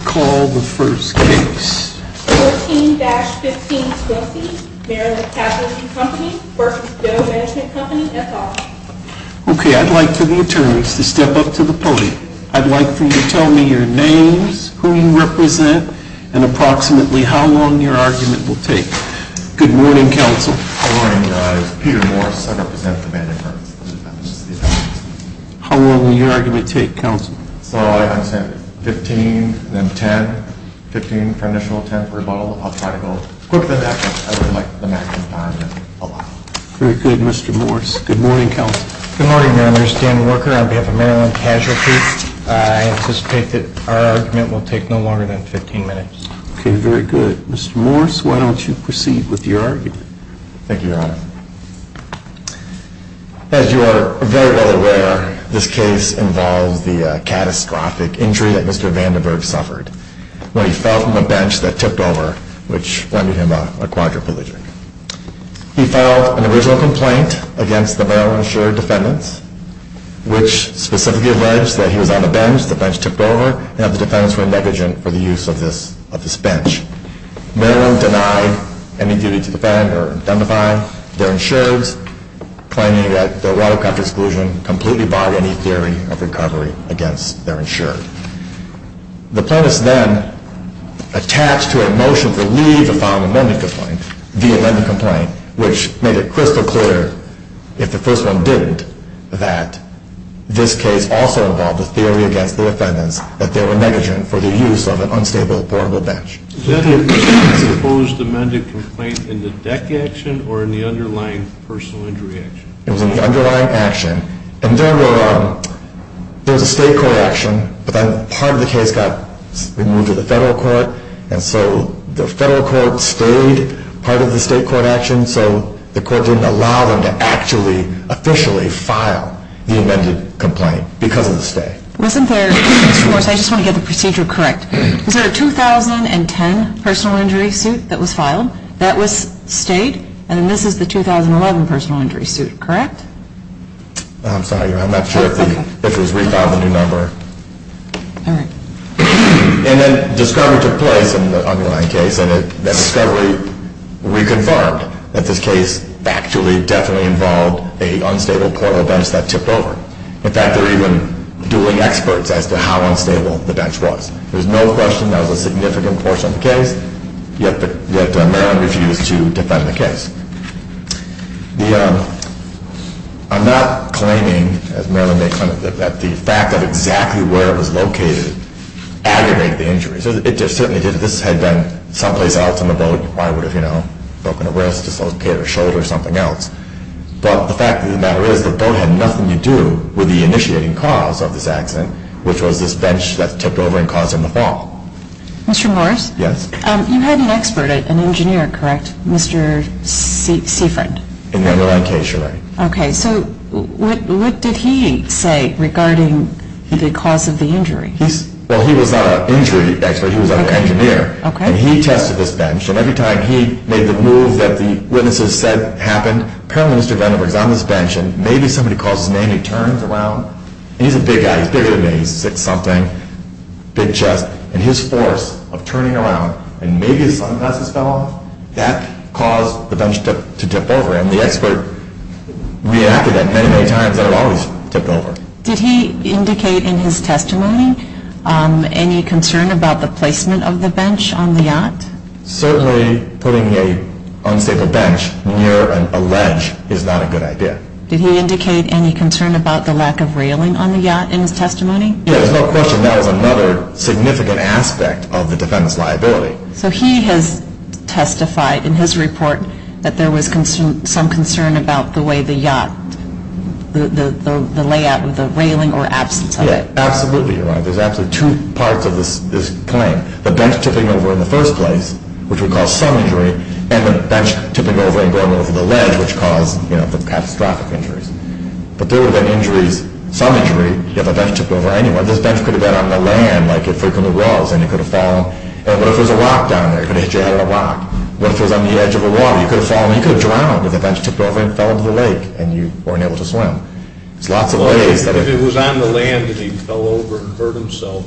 Okay, I'd like for the attorneys to step up to the podium. I'd like for you to tell me your names, who you represent, and approximately how long your argument will take. Good morning, counsel. Good morning, guys. I'm Peter Morris. I represent the vandit firms. How long will your argument take, counsel? So, I would say 15, then 10, 15 for initial attempt rebuttal. I'll try to go quicker than that, but I would like the maximum time allowed. Very good, Mr. Morris. Good morning, counsel. Good morning, members. Dan Worker on behalf of Maryland Casualty. I anticipate that our argument will take no longer than 15 minutes. Okay, very good. Mr. Morris, why don't you proceed with your argument? Thank you, Your Honor. As you are very well aware, this case involves the catastrophic injury that Mr. Vandenberg suffered when he fell from a bench that tipped over, which rendered him a quadriplegic. He filed an original complaint against the Maryland insured defendants, which specifically alleged that he was on a bench, the bench tipped over, and that the defendants were negligent for the use of this bench. Maryland denied any duty to defend or identify their insureds, claiming that their watercraft exclusion completely barred any theory of recovery against their insured. The plaintiffs then attached to a motion to leave the filing of an amended complaint, the amended complaint, which made it crystal clear, if the first one didn't, that this case also involved a theory against the defendants that they were negligent for the use of an unstable, portable bench. Did the plaintiffs oppose the amended complaint in the deck action or in the underlying personal injury action? It was in the underlying action, and there were, there was a state court action, but then part of the case got moved to the federal court, and so the federal court stayed part of the state court action, so the court didn't allow them to actually, officially file the amended complaint because of the state. I just want to get the procedure correct. Is there a 2010 personal injury suit that was filed that was state, and this is the 2011 personal injury suit, correct? I'm sorry, I'm not sure if it was re-filed into number. All right. And then discovery took place in the underlying case, and discovery reconfirmed that this case actually definitely involved a unstable portable bench that tipped over. In fact, there were even dueling experts as to how unstable the bench was. There was no question that was a significant portion of the case, yet Maryland refused to defend the case. The, I'm not claiming, as Maryland may claim, that the fact of exactly where it was located aggregated the injuries. It just certainly did. If this had been someplace else on the boat, I would have, you know, broken a wrist, dislocated a shoulder, something else. But the fact of the matter is the boat had nothing to do with the initiating cause of this accident, which was this bench that tipped over and caused him to fall. Mr. Morris? Yes? You had an expert, an engineer, correct, Mr. Seaford? In the underlying case, you're right. Okay. So what did he say regarding the cause of the injury? Well, he was not an injury expert. He was an engineer. Okay. And he tested this bench, and every time he made the move that the witnesses said happened, apparently Mr. Vandenberg is on this bench, and maybe somebody calls his name, he turns around. He's a big guy. He's bigger than me. He's six-something, big chest. And his force of turning around, and maybe his sunglasses fell off, that caused the bench to tip over. And the expert reacted that many, many times, and it always tipped over. Did he indicate in his testimony any concern about the placement of the bench on the yacht? Certainly putting an unstable bench near a ledge is not a good idea. Did he indicate any concern about the lack of railing on the yacht in his testimony? There's no question that was another significant aspect of the defendant's liability. So he has testified in his report that there was some concern about the way the yacht, the layout, the railing, or absence of it. Yeah, absolutely, you're right. There's actually two parts of this claim. The bench tipping over in the first place, which would cause some injury, and the bench tipping over and going over the ledge, which caused the catastrophic injuries. But there would have been injuries, some injury, if a bench tipped over anyway. This bench could have been on the land like it frequently was, and it could have fallen. And what if there was a rock down there? It could have hit your head on a rock. What if it was on the edge of the water? You could have fallen. You could have drowned if the bench tipped over and fell into the lake, and you weren't able to swim. There's lots of ways that it... Well, if it was on the land and he fell over and hurt himself,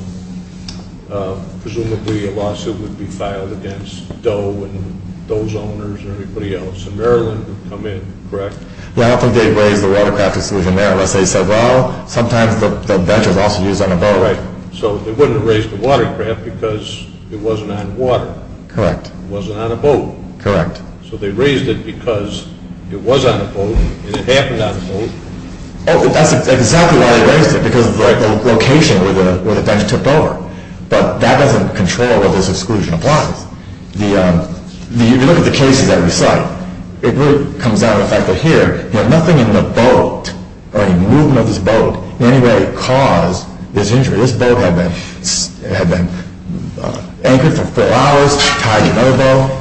presumably a lawsuit would be filed against Doe and Doe's owners and everybody else. And Maryland would come in, correct? Yeah, I don't think they'd raise the watercraft institution there unless they said, well, sometimes the bench is also used on a boat. So they wouldn't have raised the watercraft because it wasn't on water. Correct. It wasn't on a boat. Correct. So they raised it because it was on a boat, and it happened on a boat. That's exactly why they raised it, because of the location where the bench tipped over. But that doesn't control what this exclusion applies. If you look at the cases that we cite, it really comes down to the fact that here, nothing in the boat or a movement of this boat in any way caused this injury. This boat had been anchored for four hours, tied in a bow.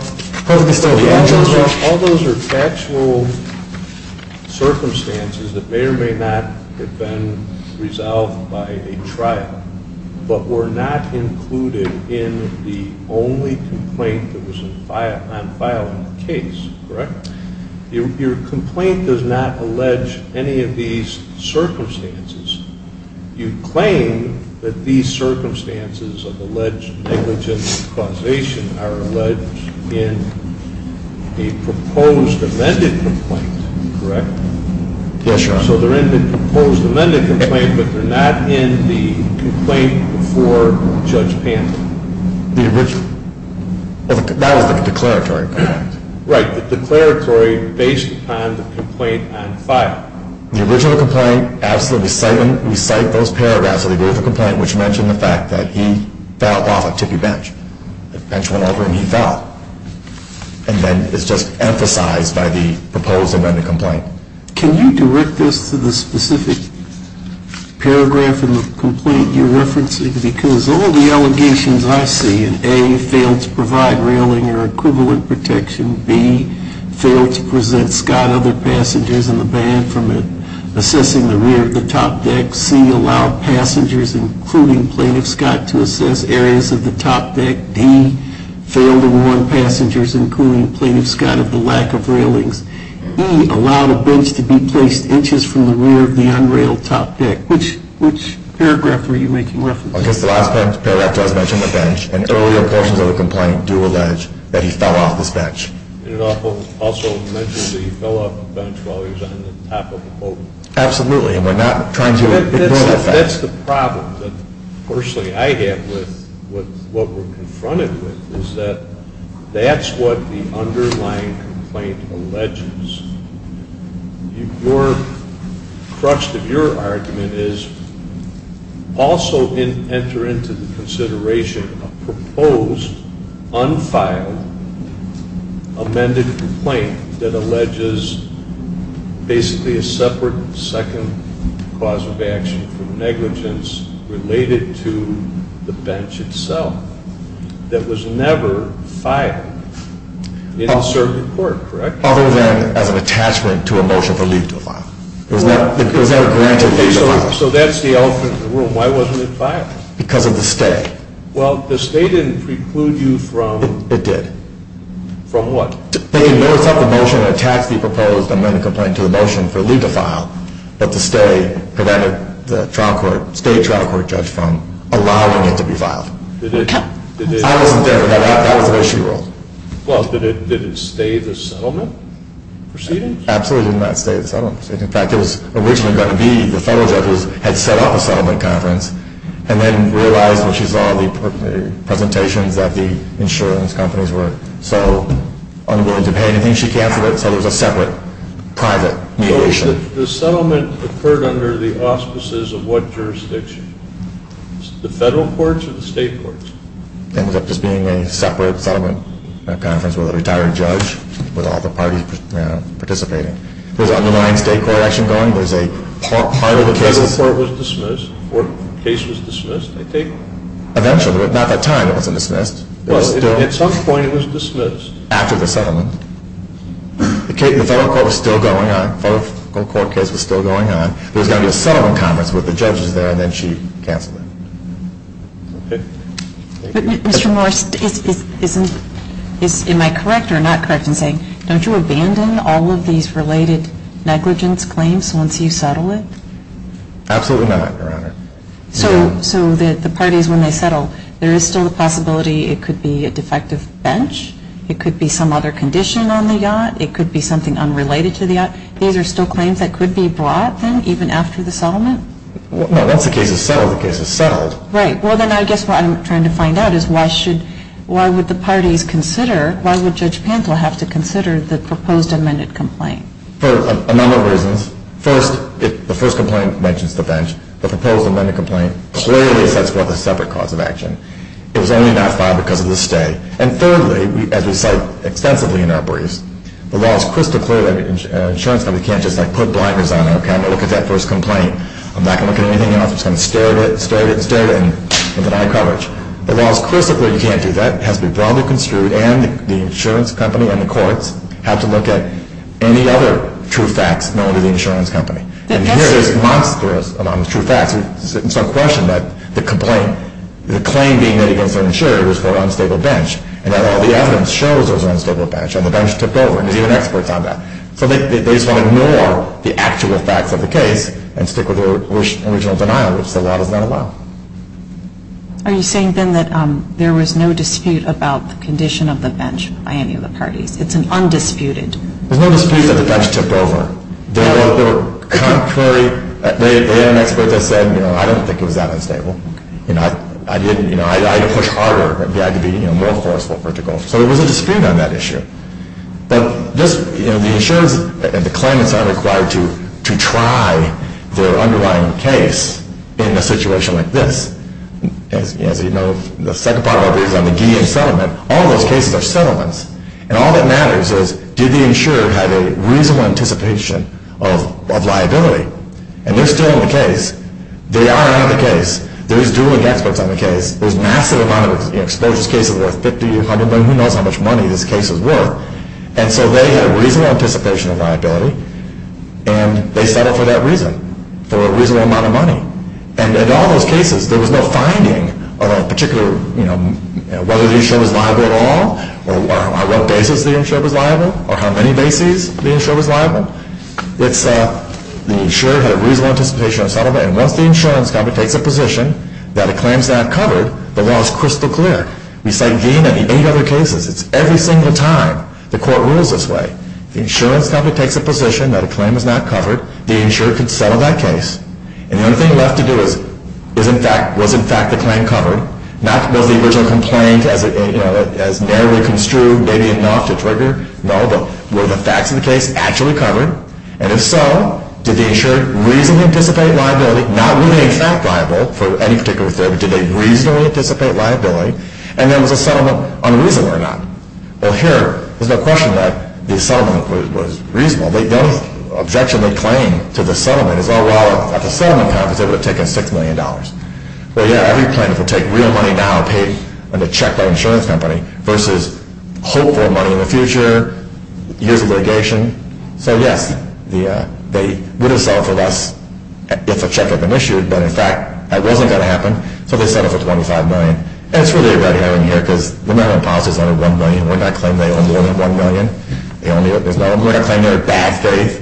All those are factual circumstances that may or may not have been resolved by a trial, but were not included in the only complaint that was on file in the case, correct? Correct. Your complaint does not allege any of these circumstances. You claim that these circumstances of alleged negligent causation are alleged in a proposed amended complaint, correct? Yes, Your Honor. So they're in the proposed amended complaint, but they're not in the complaint before Judge Pantin. The original. That was the declaratory complaint. Right, the declaratory based upon the complaint on file. The original complaint, we cite those paragraphs of the original complaint, which mention the fact that he fell off a tippy bench. The bench went over and he fell. And then it's just emphasized by the proposed amended complaint. Can you direct this to the specific paragraph in the complaint you're referencing? Because all the allegations I see in A, failed to provide railing or equivalent protection. B, failed to present Scott, other passengers, and the band from assessing the rear of the top deck. C, allowed passengers, including Plaintiff Scott, to assess areas of the top deck. D, failed to warn passengers, including Plaintiff Scott, of the lack of railings. E, allowed a bench to be placed inches from the rear of the unrailed top deck. Which paragraph were you making reference to? I guess the last paragraph does mention the bench. And earlier portions of the complaint do allege that he fell off this bench. And it also mentions that he fell off the bench while he was on the top of the boat. Absolutely, and we're not trying to ignore that fact. That's the problem that personally I have with what we're confronted with, is that that's what the underlying complaint alleges. The crux of your argument is also enter into the consideration of proposed, unfiled, amended complaint that alleges basically a separate, second cause of action for negligence related to the bench itself. That was never filed in the circuit court, correct? Other than as an attachment to a motion for leave to file. It was never granted leave to file. Okay, so that's the elephant in the room. Why wasn't it filed? Because of the stay. Well, the stay didn't preclude you from... It did. From what? They can notice up the motion and attach the proposed amended complaint to the motion for leave to file, but the stay prevented the state trial court judge from allowing it to be filed. I wasn't there. That was an issue rule. Well, did it stay the settlement proceedings? Absolutely did not stay the settlement proceedings. In fact, it was originally going to be the federal judges had set up a settlement conference and then realized when she saw the presentations that the insurance companies were so unwilling to pay anything, she canceled it, so it was a separate, private mediation. The settlement occurred under the auspices of what jurisdiction? The federal courts or the state courts? It ended up just being a separate settlement conference with a retired judge with all the parties participating. There was an underlying state court election going. There was a part of the cases... The federal court was dismissed? The case was dismissed, I take? Eventually, but not at that time it wasn't dismissed. Well, at some point it was dismissed. After the settlement. The federal court was still going on. The federal court case was still going on. There was going to be a settlement conference with the judges there, and then she canceled it. Okay. Mr. Morris, am I correct or not correct in saying don't you abandon all of these related negligence claims once you settle it? Absolutely not, Your Honor. So the parties, when they settle, there is still the possibility it could be a defective bench, it could be some other condition on the yacht, it could be something unrelated to the yacht. These are still claims that could be brought, then, even after the settlement? No, once the case is settled, the case is settled. Right. Well, then I guess what I'm trying to find out is why would the parties consider, why would Judge Pantle have to consider the proposed amended complaint? For a number of reasons. First, the first complaint mentions the bench. The proposed amended complaint clearly sets forth a separate cause of action. It was only not filed because of the stay. And thirdly, as we cite extensively in our briefs, the law is crystal clear that insurance companies can't just put blinders on, okay, I'm going to look at that first complaint. I'm not going to look at anything else. I'm just going to stare at it and stare at it and stare at it with an eye coverage. The law is crystal clear you can't do that. It has to be broadly construed, and the insurance company and the courts have to look at any other true facts known to the insurance company. And here is monstrous amount of true facts. It's not a question that the complaint, the claim being made against an insurer was for an unstable bench, and that all the evidence shows it was an unstable bench, and the bench tipped over, and there's even experts on that. So they just want to ignore the actual facts of the case and stick with their original denial, which the law does not allow. Are you saying then that there was no dispute about the condition of the bench by any of the parties? It's an undisputed. There's no dispute that the bench tipped over. They were contrary. They had an expert that said, you know, I don't think it was that unstable. You know, I didn't, you know, I didn't push harder. I had to be, you know, more forceful for it to go. So there was a dispute on that issue. But just, you know, the insurers and the claimants aren't required to try their underlying case in a situation like this. As you know, the second part of it is on the guillotine settlement. All those cases are settlements. And all that matters is, did the insurer have a reasonable anticipation of liability? And they're still in the case. They are out of the case. There is dueling experts on the case. There's massive amount of exposures cases worth 50, 100, who knows how much money these cases were. And so they had reasonable anticipation of liability. And they settled for that reason, for a reasonable amount of money. And in all those cases, there was no finding of a particular, you know, whether the insurer was liable at all or what basis the insurer was liable or how many bases the insurer was liable. It's the insurer had reasonable anticipation of settlement. And once the insurance company takes a position that a claim is not covered, the law is crystal clear. We cite Gein and the eight other cases. It's every single time the court rules this way. The insurance company takes a position that a claim is not covered. The insurer can settle that case. And the only thing left to do is, was in fact the claim covered? Not was the original complaint as narrowly construed maybe enough to trigger? No, but were the facts of the case actually covered? And if so, did the insurer reasonably anticipate liability, not were they in fact liable for any particular therapy, but did they reasonably anticipate liability? And then was the settlement unreasonable or not? Well, here, there's no question that the settlement was reasonable. The only objection they claim to the settlement is, oh, well, at the settlement time, they would have taken $6 million. Well, yeah, every plaintiff would take real money now paid on the check by an insurance company versus hope for money in the future, years of litigation. So, yes, they would have settled for less if a check had been issued, but, in fact, that wasn't going to happen, so they settled for $25 million. And it's really a red herring here because the Maryland policy is under $1 million. We're not claiming they owe more than $1 million. We're not claiming they're in bad faith.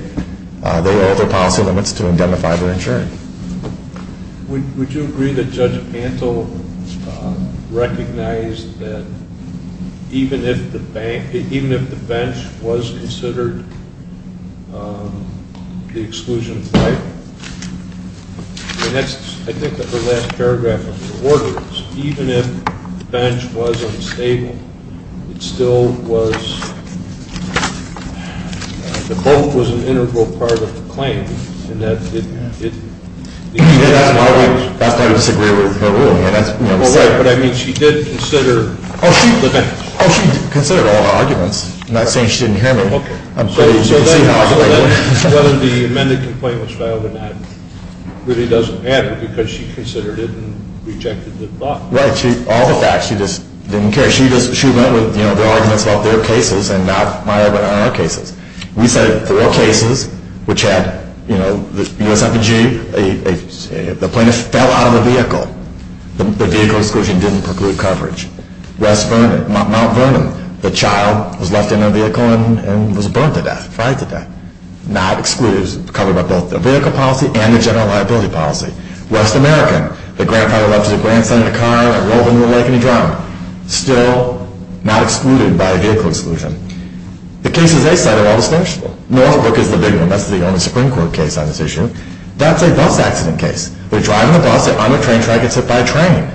They owe their policy limits to identify their insurer. Would you agree that Judge Pantel recognized that even if the bench was considered the exclusion of life, and that's, I think, her last paragraph of her order, even if the bench was unstable, it still was the both was an integral part of the claim. And that's why we disagree with her ruling. I mean, she did consider the bench. Oh, she considered all the arguments. I'm not saying she didn't hear them. So whether the amended complaint was filed or not really doesn't matter because she considered it and rejected the thought. Right. All the facts. She just didn't care. She went with the arguments about their cases and not my or our cases. We cited four cases which had, you know, the USFG, the plaintiff fell out of the vehicle. The vehicle exclusion didn't preclude coverage. West Vernon, Mount Vernon, the child was left in a vehicle and was burned to death, fried to death, not excluded, covered by both the vehicle policy and the general liability policy. West American, the grandfather left his grandson in a car and rolled into a lake and he drowned. Still not excluded by a vehicle exclusion. The cases they cited are all distinguishable. Northbrook is the big one. That's the only Supreme Court case on this issue. That's a bus accident case. They're driving the bus on a train track and get hit by a train.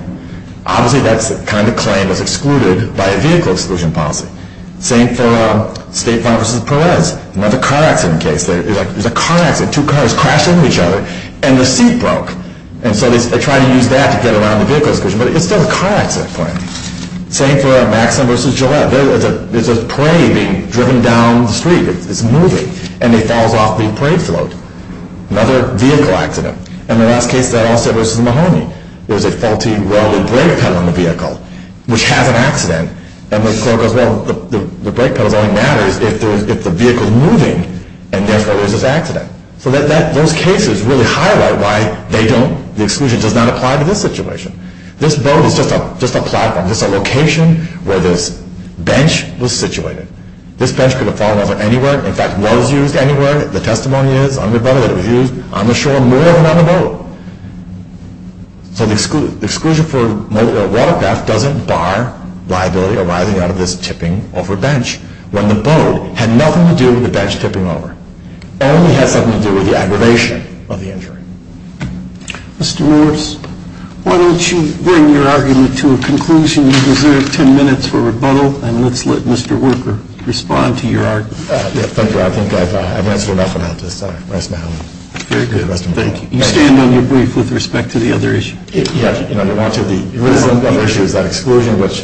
Obviously that kind of claim is excluded by a vehicle exclusion policy. Same for State Farm v. Perez. Another car accident case. There's a car accident. Two cars crash into each other and the seat broke. And so they try to use that to get around the vehicle exclusion. But it's still a car accident claim. Same for Maxim v. Gillette. There's a prey being driven down the street. It's moving. And it falls off the prey float. Another vehicle accident. And the last case they all said was the Mahoney. There's a faulty welded brake pedal on the vehicle, which has an accident. And the clerk goes, well, the brake pedal only matters if the vehicle is moving. And that's why there's this accident. So those cases really highlight why they don't, the exclusion does not apply to this situation. This boat is just a platform, just a location where this bench was situated. This bench could have fallen over anywhere. In fact, was used anywhere. The testimony is on the boat, it was used on the shore more than on the boat. So the exclusion for a water theft doesn't bar liability arising out of this tipping over bench. When the boat had nothing to do with the bench tipping over. It only had something to do with the aggravation of the injury. Mr. Morris, why don't you bring your argument to a conclusion. You deserve 10 minutes for rebuttal. And let's let Mr. Worker respond to your argument. Thank you. I think I've answered enough on this. Rest in peace. Very good. Thank you. You stand on your brief with respect to the other issue. Yeah. The other issue is that exclusion, which,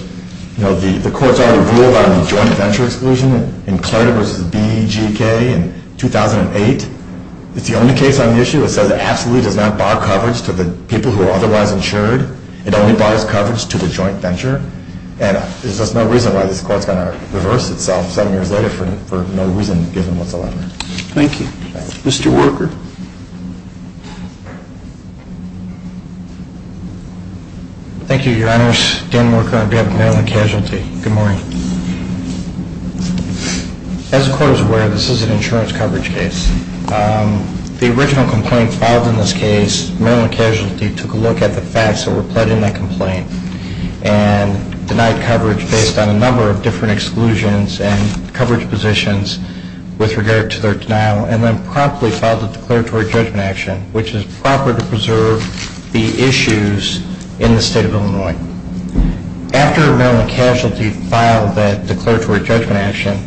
you know, the courts already ruled on the joint venture exclusion in Carter v. BGK in 2008. It's the only case on the issue that says it absolutely does not bar coverage to the people who are otherwise insured. It only bars coverage to the joint venture. And there's just no reason why this court is going to reverse itself seven years later for no reason given whatsoever. Thank you. Mr. Worker. Thank you, Your Honors. Dan Worker on behalf of Maryland Casualty. Good morning. As the court is aware, this is an insurance coverage case. The original complaint filed in this case, Maryland Casualty took a look at the facts that were put in that complaint and denied coverage based on a number of different exclusions and coverage positions with regard to their denial and then promptly filed a declaratory judgment action, which is proper to preserve the issues in the State of Illinois. After Maryland Casualty filed that declaratory judgment action,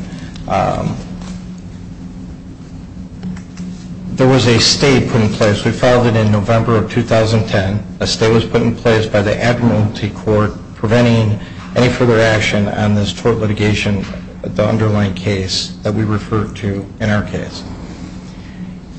there was a stay put in place. We filed it in November of 2010. A stay was put in place by the Admiralty Court preventing any further action on this tort litigation, the underlying case that we referred to in our case.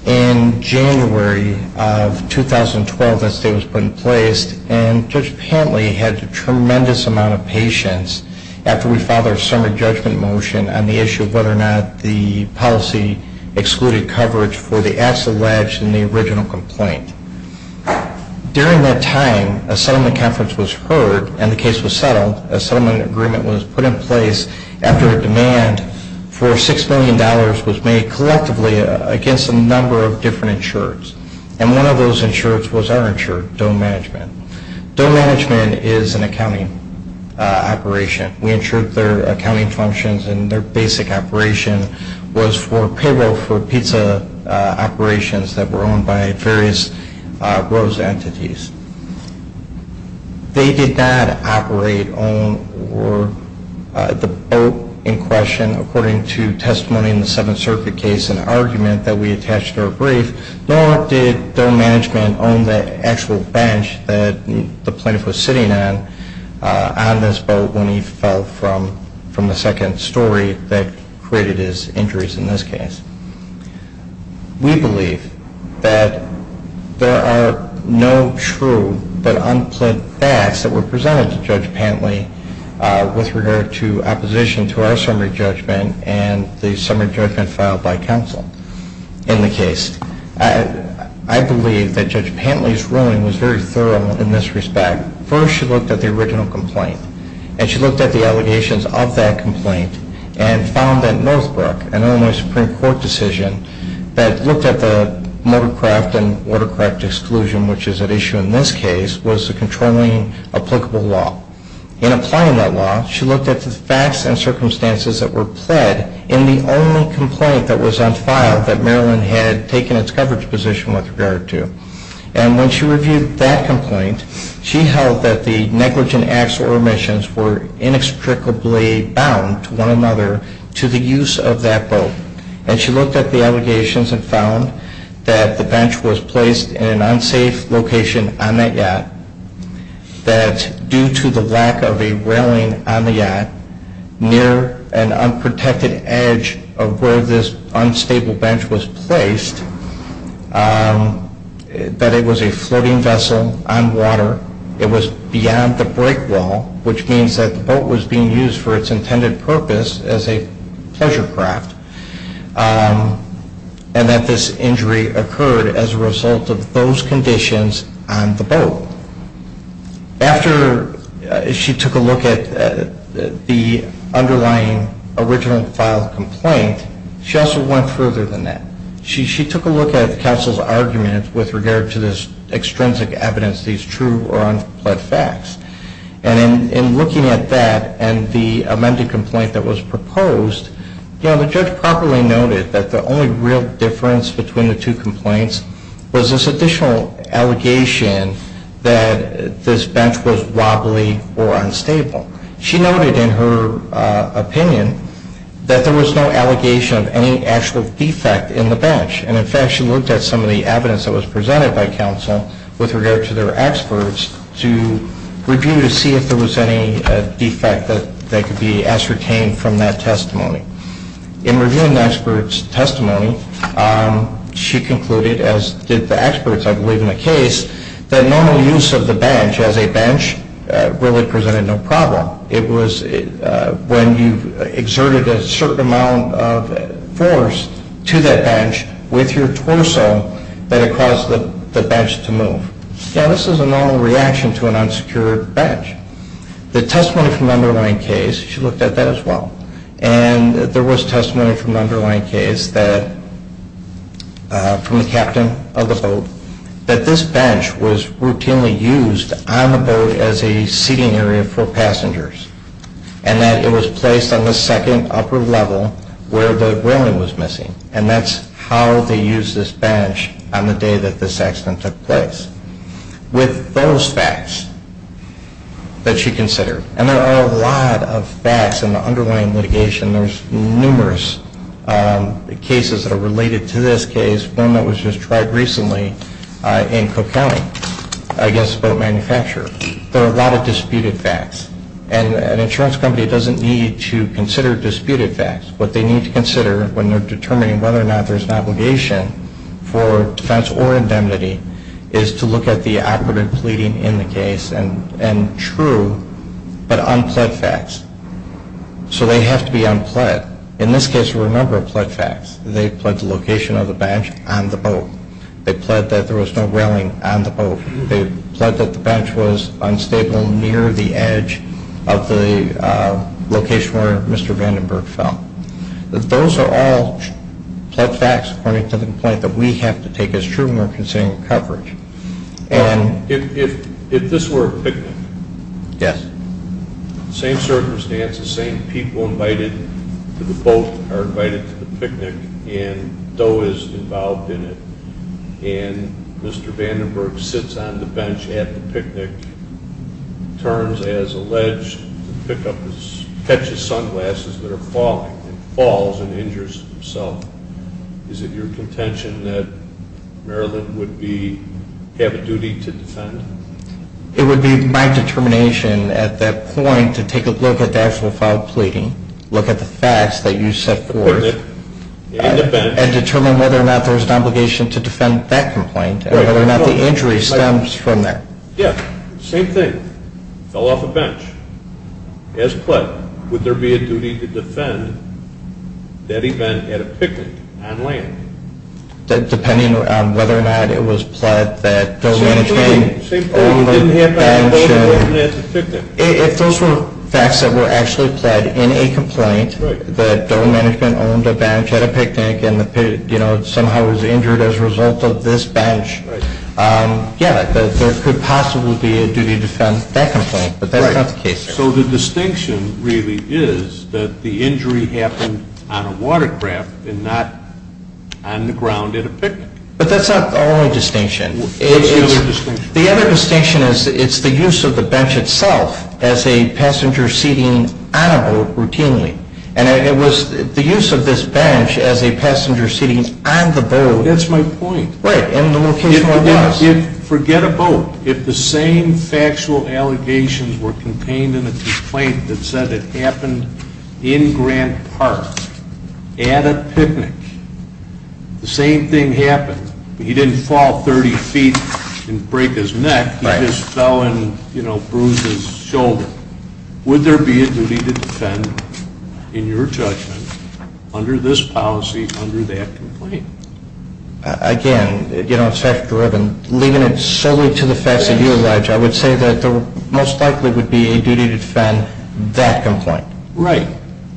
In January of 2012, a stay was put in place, and Judge Pantley had a tremendous amount of patience after we filed our summary judgment motion on the issue of whether or not the policy excluded coverage for the acts alleged in the original complaint. During that time, a settlement conference was heard and the case was settled. A settlement agreement was put in place after a demand for $6 million was made collectively against a number of different insurers, and one of those insurers was our insurer, Doe Management. Doe Management is an accounting operation. We insured their accounting functions, and their basic operation was for payroll for pizza operations that were owned by various Rose entities. They did not operate or own the boat in question according to testimony in the Seventh Circuit case and argument that we attached to our brief, nor did Doe Management own the actual bench that the plaintiff was sitting on on this boat when he fell from the second story that created his injuries in this case. We believe that there are no true but unpleant facts that were presented to Judge Pantley with regard to opposition to our summary judgment and the summary judgment filed by counsel in the case. I believe that Judge Pantley's ruling was very thorough in this respect. First, she looked at the original complaint, and she looked at the allegations of that complaint and found that Northbrook, an Illinois Supreme Court decision, that looked at the motorcraft and watercraft exclusion, which is at issue in this case, was the controlling applicable law. In applying that law, she looked at the facts and circumstances that were pled in the only complaint that was on file that Maryland had taken its coverage position with regard to. And when she reviewed that complaint, she held that the negligent acts or omissions were inextricably bound to one another to the use of that boat. And she looked at the allegations and found that the bench was placed in an unsafe location on that yacht, that due to the lack of a railing on the yacht near an unprotected edge of where this unstable bench was placed, that it was a floating vessel on water. It was beyond the break wall, which means that the boat was being used for its intended purpose as a pleasure craft, and that this injury occurred as a result of those conditions on the boat. After she took a look at the underlying original filed complaint, she also went further than that. She took a look at counsel's argument with regard to this extrinsic evidence, these true or unpled facts. And in looking at that and the amended complaint that was proposed, the judge properly noted that the only real difference between the two complaints was this additional allegation that this bench was wobbly or unstable. She noted in her opinion that there was no allegation of any actual defect in the bench. And in fact, she looked at some of the evidence that was presented by counsel with regard to their experts to review to see if there was any defect that could be ascertained from that testimony. In reviewing the experts' testimony, she concluded, as did the experts, I believe, in the case, that normal use of the bench as a bench really presented no problem. It was when you exerted a certain amount of force to that bench with your torso that it caused the bench to move. Now, this is a normal reaction to an unsecured bench. The testimony from the underlying case, she looked at that as well, and there was testimony from the underlying case from the captain of the boat that this bench was routinely used on the boat as a seating area for passengers and that it was placed on the second upper level where the whaling was missing. And that's how they used this bench on the day that this accident took place. With those facts that she considered, and there are a lot of facts in the underlying litigation, there's numerous cases that are related to this case, one that was just tried recently in Cook County, against a boat manufacturer. There are a lot of disputed facts. And an insurance company doesn't need to consider disputed facts. What they need to consider when they're determining whether or not there's an obligation for defense or indemnity is to look at the operative pleading in the case and true but unpled facts. So they have to be unpled. In this case, there were a number of pled facts. They pled the location of the bench on the boat. They pled that there was no whaling on the boat. They pled that the bench was unstable near the edge of the location where Mr. Vandenberg fell. Those are all pled facts according to the complaint that we have to take as true when we're considering coverage. If this were a picnic, same circumstances, same people invited to the boat are invited to the picnic, and Doe is involved in it, and Mr. Vandenberg sits on the bench at the picnic, turns as alleged, catches sunglasses that are falling, and falls and injures himself, is it your contention that Maryland would have a duty to defend? It would be my determination at that point to take a look at the actual filed pleading, look at the facts that you set forth, and determine whether or not there was an obligation to defend that complaint and whether or not the injury stems from that. Yeah, same thing. If Mr. Vandenberg fell off a bench as pled, would there be a duty to defend that event at a picnic on land? Depending on whether or not it was pled that Doe Management owned a bench at a picnic. If those were facts that were actually pled in a complaint that Doe Management owned a bench at a picnic and somehow was injured as a result of this bench, yeah, there could possibly be a duty to defend that complaint, but that's not the case. So the distinction really is that the injury happened on a watercraft and not on the ground at a picnic. But that's not the only distinction. What's the other distinction? The other distinction is it's the use of the bench itself as a passenger seating on a boat routinely, and it was the use of this bench as a passenger seating on the boat. That's my point. Forget a boat. If the same factual allegations were contained in a complaint that said it happened in Grant Park at a picnic, the same thing happened. He didn't fall 30 feet and break his neck. He just fell and, you know, bruised his shoulder. Would there be a duty to defend in your judgment under this policy under that complaint? Again, you know, it's fact-driven. Leaving it solely to the facts of your ledge, I would say that there most likely would be a duty to defend that complaint. Right.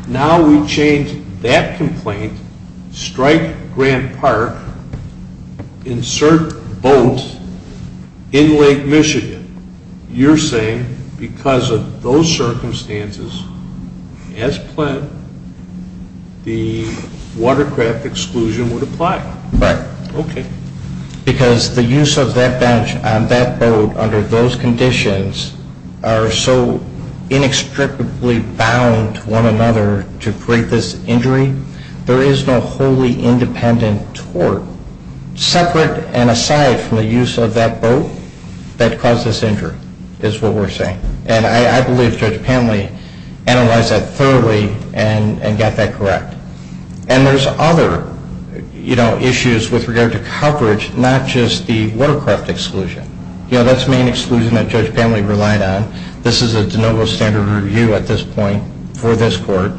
Now we change that complaint, strike Grant Park, insert boat in Lake Michigan. You're saying because of those circumstances, as planned, the watercraft exclusion would apply. Right. Okay. Because the use of that bench on that boat under those conditions are so inextricably bound to one another to create this injury, there is no wholly independent tort separate and aside from the use of that boat that caused this injury is what we're saying. And I believe Judge Panley analyzed that thoroughly and got that correct. And there's other, you know, issues with regard to coverage, not just the watercraft exclusion. You know, that's the main exclusion that Judge Panley relied on. This is a de novo standard review at this point for this court.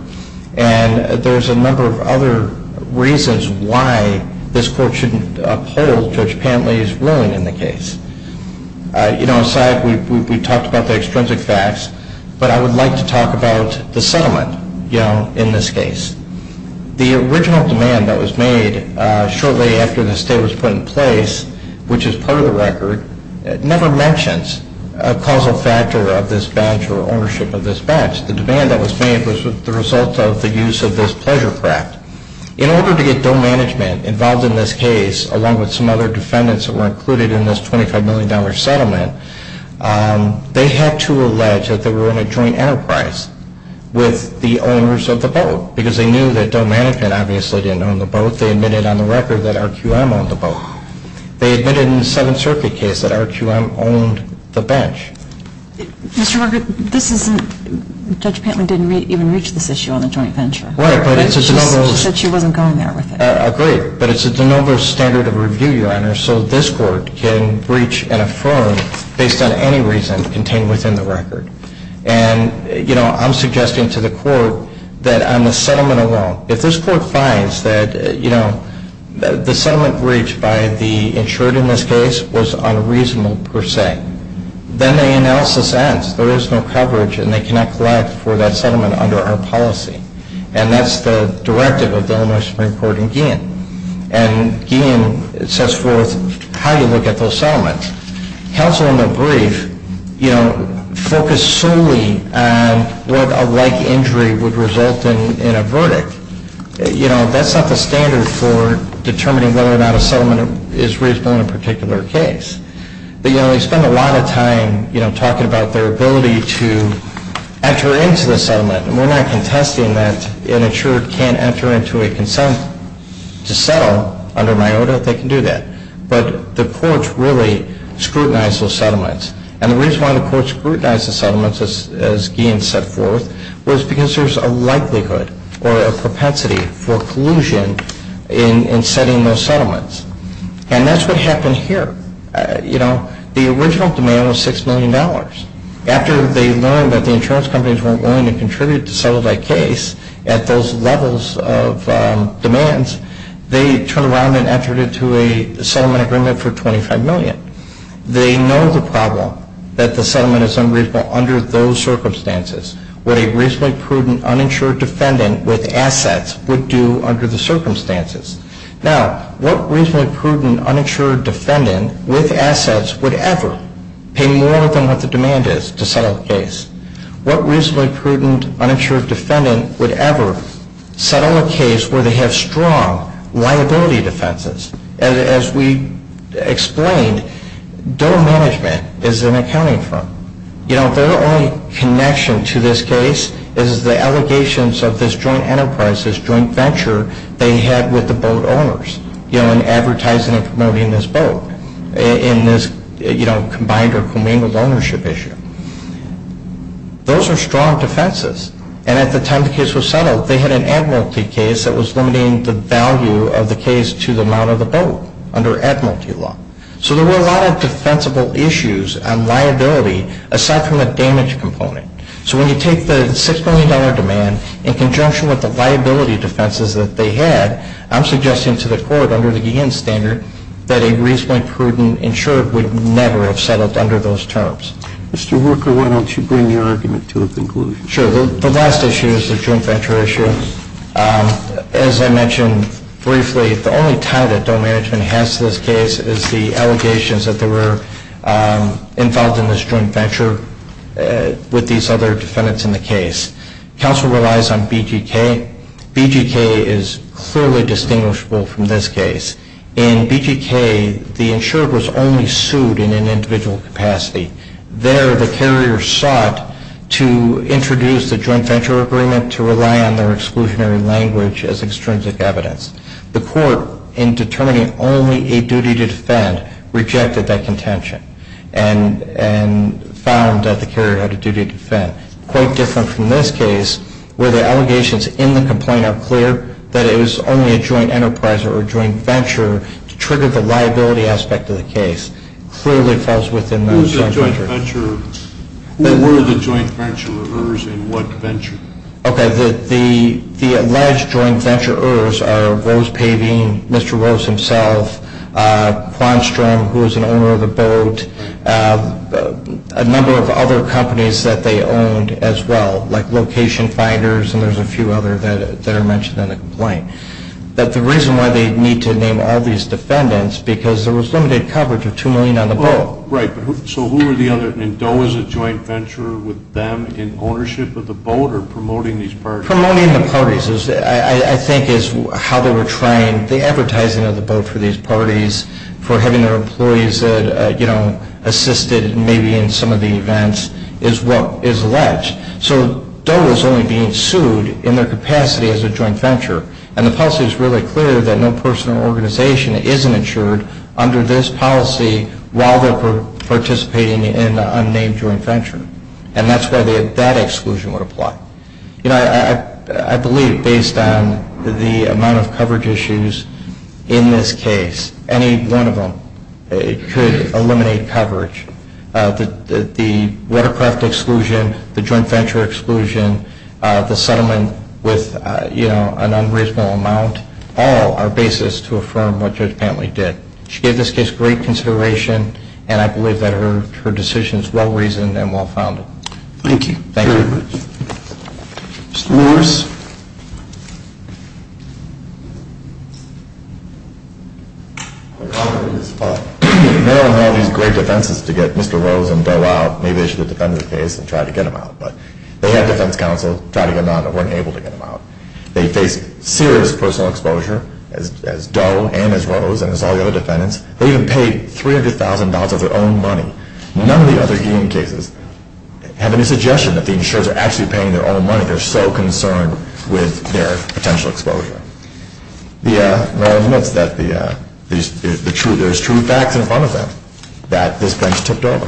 And there's a number of other reasons why this court shouldn't uphold Judge Panley's ruling in the case. You know, aside, we talked about the extrinsic facts, but I would like to talk about the settlement, you know, in this case. The original demand that was made shortly after the stay was put in place, which is part of the record, never mentions a causal factor of this badge or ownership of this badge. The demand that was made was the result of the use of this pleasure craft. In order to get Doe Management involved in this case, along with some other defendants that were included in this $25 million settlement, they had to allege that they were in a joint enterprise with the owners of the boat, because they knew that Doe Management obviously didn't own the boat. They admitted on the record that RQM owned the boat. They admitted in the Seventh Circuit case that RQM owned the bench. Judge Panley didn't even reach this issue on the joint venture. Right, but it's a de novo. She said she wasn't going there with it. Agreed. But it's a de novo standard of review, Your Honor, so this court can breach and affirm based on any reason contained within the record. And, you know, I'm suggesting to the court that on the settlement alone, if this court finds that, you know, the settlement breached by the insured in this case was unreasonable per se, then the analysis ends. There is no coverage, and they cannot collect for that settlement under our policy. And that's the directive of the Illinois Supreme Court in Guillen. And Guillen sets forth how you look at those settlements. Counsel in the brief, you know, focused solely on what a like injury would result in in a verdict. You know, that's not the standard for determining whether or not a settlement is reasonable in a particular case. But, you know, they spend a lot of time, you know, talking about their ability to enter into the settlement. And we're not contesting that an insured can't enter into a consent to settle under MIOTA. They can do that. But the courts really scrutinize those settlements. And the reason why the courts scrutinize the settlements, as Guillen set forth, was because there's a likelihood or a propensity for collusion in setting those settlements. And that's what happened here. You know, the original demand was $6 million. After they learned that the insurance companies weren't willing to contribute to settle that case at those levels of demands, they turned around and entered into a settlement agreement for $25 million. They know the problem, that the settlement is unreasonable under those circumstances, what a reasonably prudent uninsured defendant with assets would do under the circumstances. Now, what reasonably prudent uninsured defendant with assets would ever pay more than what the demand is to settle the case? What reasonably prudent uninsured defendant would ever settle a case where they have strong liability defenses? As we explained, DOE management is an accounting firm. You know, their only connection to this case is the allegations of this joint enterprise, this joint venture they had with the boat owners, you know, in advertising and promoting this boat, in this, you know, combined or commingled ownership issue. Those are strong defenses. And at the time the case was settled, they had an admiralty case that was limiting the value of the case to the amount of the boat under admiralty law. So there were a lot of defensible issues on liability aside from the damage component. So when you take the $6 million demand in conjunction with the liability defenses that they had, I'm suggesting to the court under the Guillen standard that a reasonably prudent insured would never have settled under those terms. Mr. Worker, why don't you bring your argument to a conclusion? Sure. The last issue is the joint venture issue. As I mentioned briefly, the only tie that DOE management has to this case is the allegations that they were involved in this joint venture with these other defendants in the case. Counsel relies on BGK. BGK is clearly distinguishable from this case. In BGK, the insured was only sued in an individual capacity. There, the carrier sought to introduce the joint venture agreement to rely on their exclusionary language as extrinsic evidence. The court, in determining only a duty to defend, rejected that contention and found that the carrier had a duty to defend. Quite different from this case, where the allegations in the complaint are clear that it was only a joint enterprise or a joint venture to trigger the liability aspect of the case. Clearly falls within those boundaries. It was a joint venture. Who were the joint venture-ers and what venture? Okay. The alleged joint venture-ers are Rose Pavin, Mr. Rose himself, Kwanstrom, who is an owner of the boat, a number of other companies that they owned as well, like Location Finders, and there's a few others that are mentioned in the complaint. But the reason why they need to name all these defendants, because there was limited coverage of 2 million on the boat. Right. So who were the other, and Doe was a joint venture-er with them in ownership of the boat or promoting these parties? Promoting the parties, I think, is how they were trained. The advertising of the boat for these parties, for having their employees, you know, assisted maybe in some of the events is what is alleged. So Doe is only being sued in their capacity as a joint venture. And the policy is really clear that no person or organization isn't insured under this policy while they're participating in an unnamed joint venture. And that's why that exclusion would apply. You know, I believe based on the amount of coverage issues in this case, any one of them could eliminate coverage. The watercraft exclusion, the joint venture exclusion, the settlement with, you know, an unreasonable amount, all are basis to affirm what Judge Pantley did. She gave this case great consideration, and I believe that her decision is well-reasoned and well-founded. Thank you. Thank you very much. Mr. Lewis. Maryland had all these great defenses to get Mr. Rose and Doe out. Maybe they should have defended the case and tried to get them out. But they had defense counsel try to get them out and weren't able to get them out. They faced serious personal exposure as Doe and as Rose and as all the other defendants. They even paid $300,000 of their own money. None of the other union cases have any suggestion that the insurers are actually paying their own money. They're so concerned with their potential exposure. Maryland admits that there's true facts in front of them that this bench tipped over.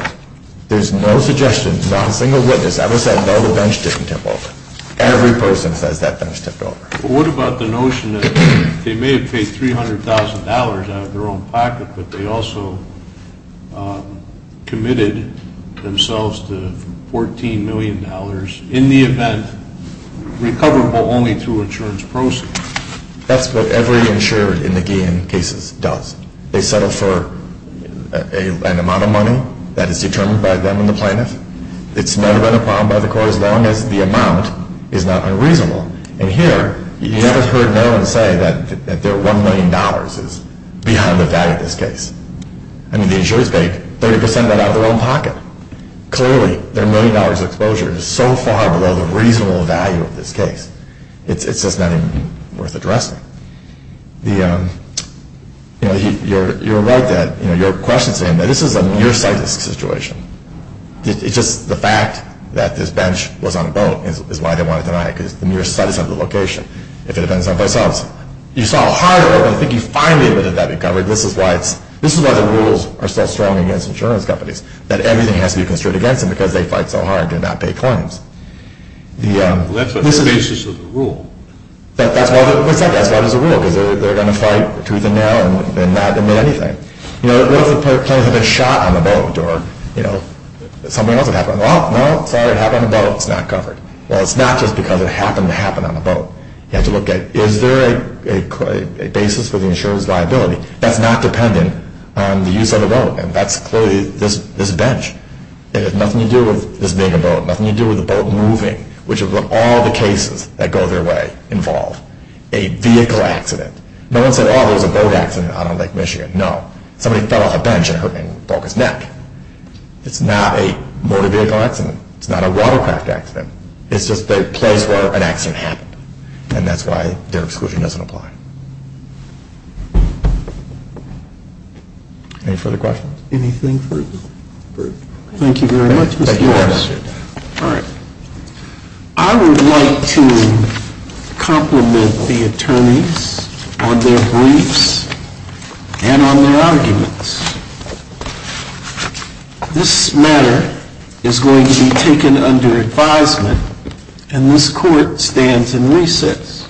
There's no suggestion, not a single witness ever said, no, the bench didn't tip over. Every person says that bench tipped over. Well, what about the notion that they may have paid $300,000 out of their own pocket, but they also committed themselves to $14 million in the event, recoverable only through insurance proceeds? That's what every insurer in the Guillen cases does. They settle for an amount of money that is determined by them and the plaintiff. It's never been a problem by the court as long as the amount is not unreasonable. And here, you never heard Maryland say that their $1 million is beyond the value of this case. I mean, the insurers paid 30% of that out of their own pocket. Clearly, their $1 million exposure is so far below the reasonable value of this case. It's just not even worth addressing. You're right that your question is saying that this is a nearsighted situation. It's just the fact that this bench was on a boat is why they wanted to deny it, because it's the nearsightedness of the location, if it depends on themselves. You saw hard at work, and I think you finally admitted that recovery. This is why the rules are so strong against insurance companies, that everything has to be constricted against them because they fight so hard to not pay claims. Well, that's on the basis of the rule. That's why there's a rule, because they're going to fight tooth and nail and not admit anything. What if a person had been shot on the boat, or something else had happened? Well, no, sorry, it happened on a boat, it's not covered. Well, it's not just because it happened to happen on a boat. You have to look at, is there a basis for the insurer's liability? That's not dependent on the use of the boat, and that's clearly this bench. It has nothing to do with this being a boat, nothing to do with the boat moving, which is what all the cases that go their way involve, a vehicle accident. No one said, oh, there was a boat accident out on Lake Michigan. No. Somebody fell off a bench and broke his neck. It's not a motor vehicle accident. It's not a watercraft accident. It's just the place where an accident happened, and that's why their exclusion doesn't apply. Any further questions? Anything further? Thank you very much. Thank you very much. All right. I would like to compliment the attorneys on their briefs and on their arguments. This matter is going to be taken under advisement, and this court stands in recess.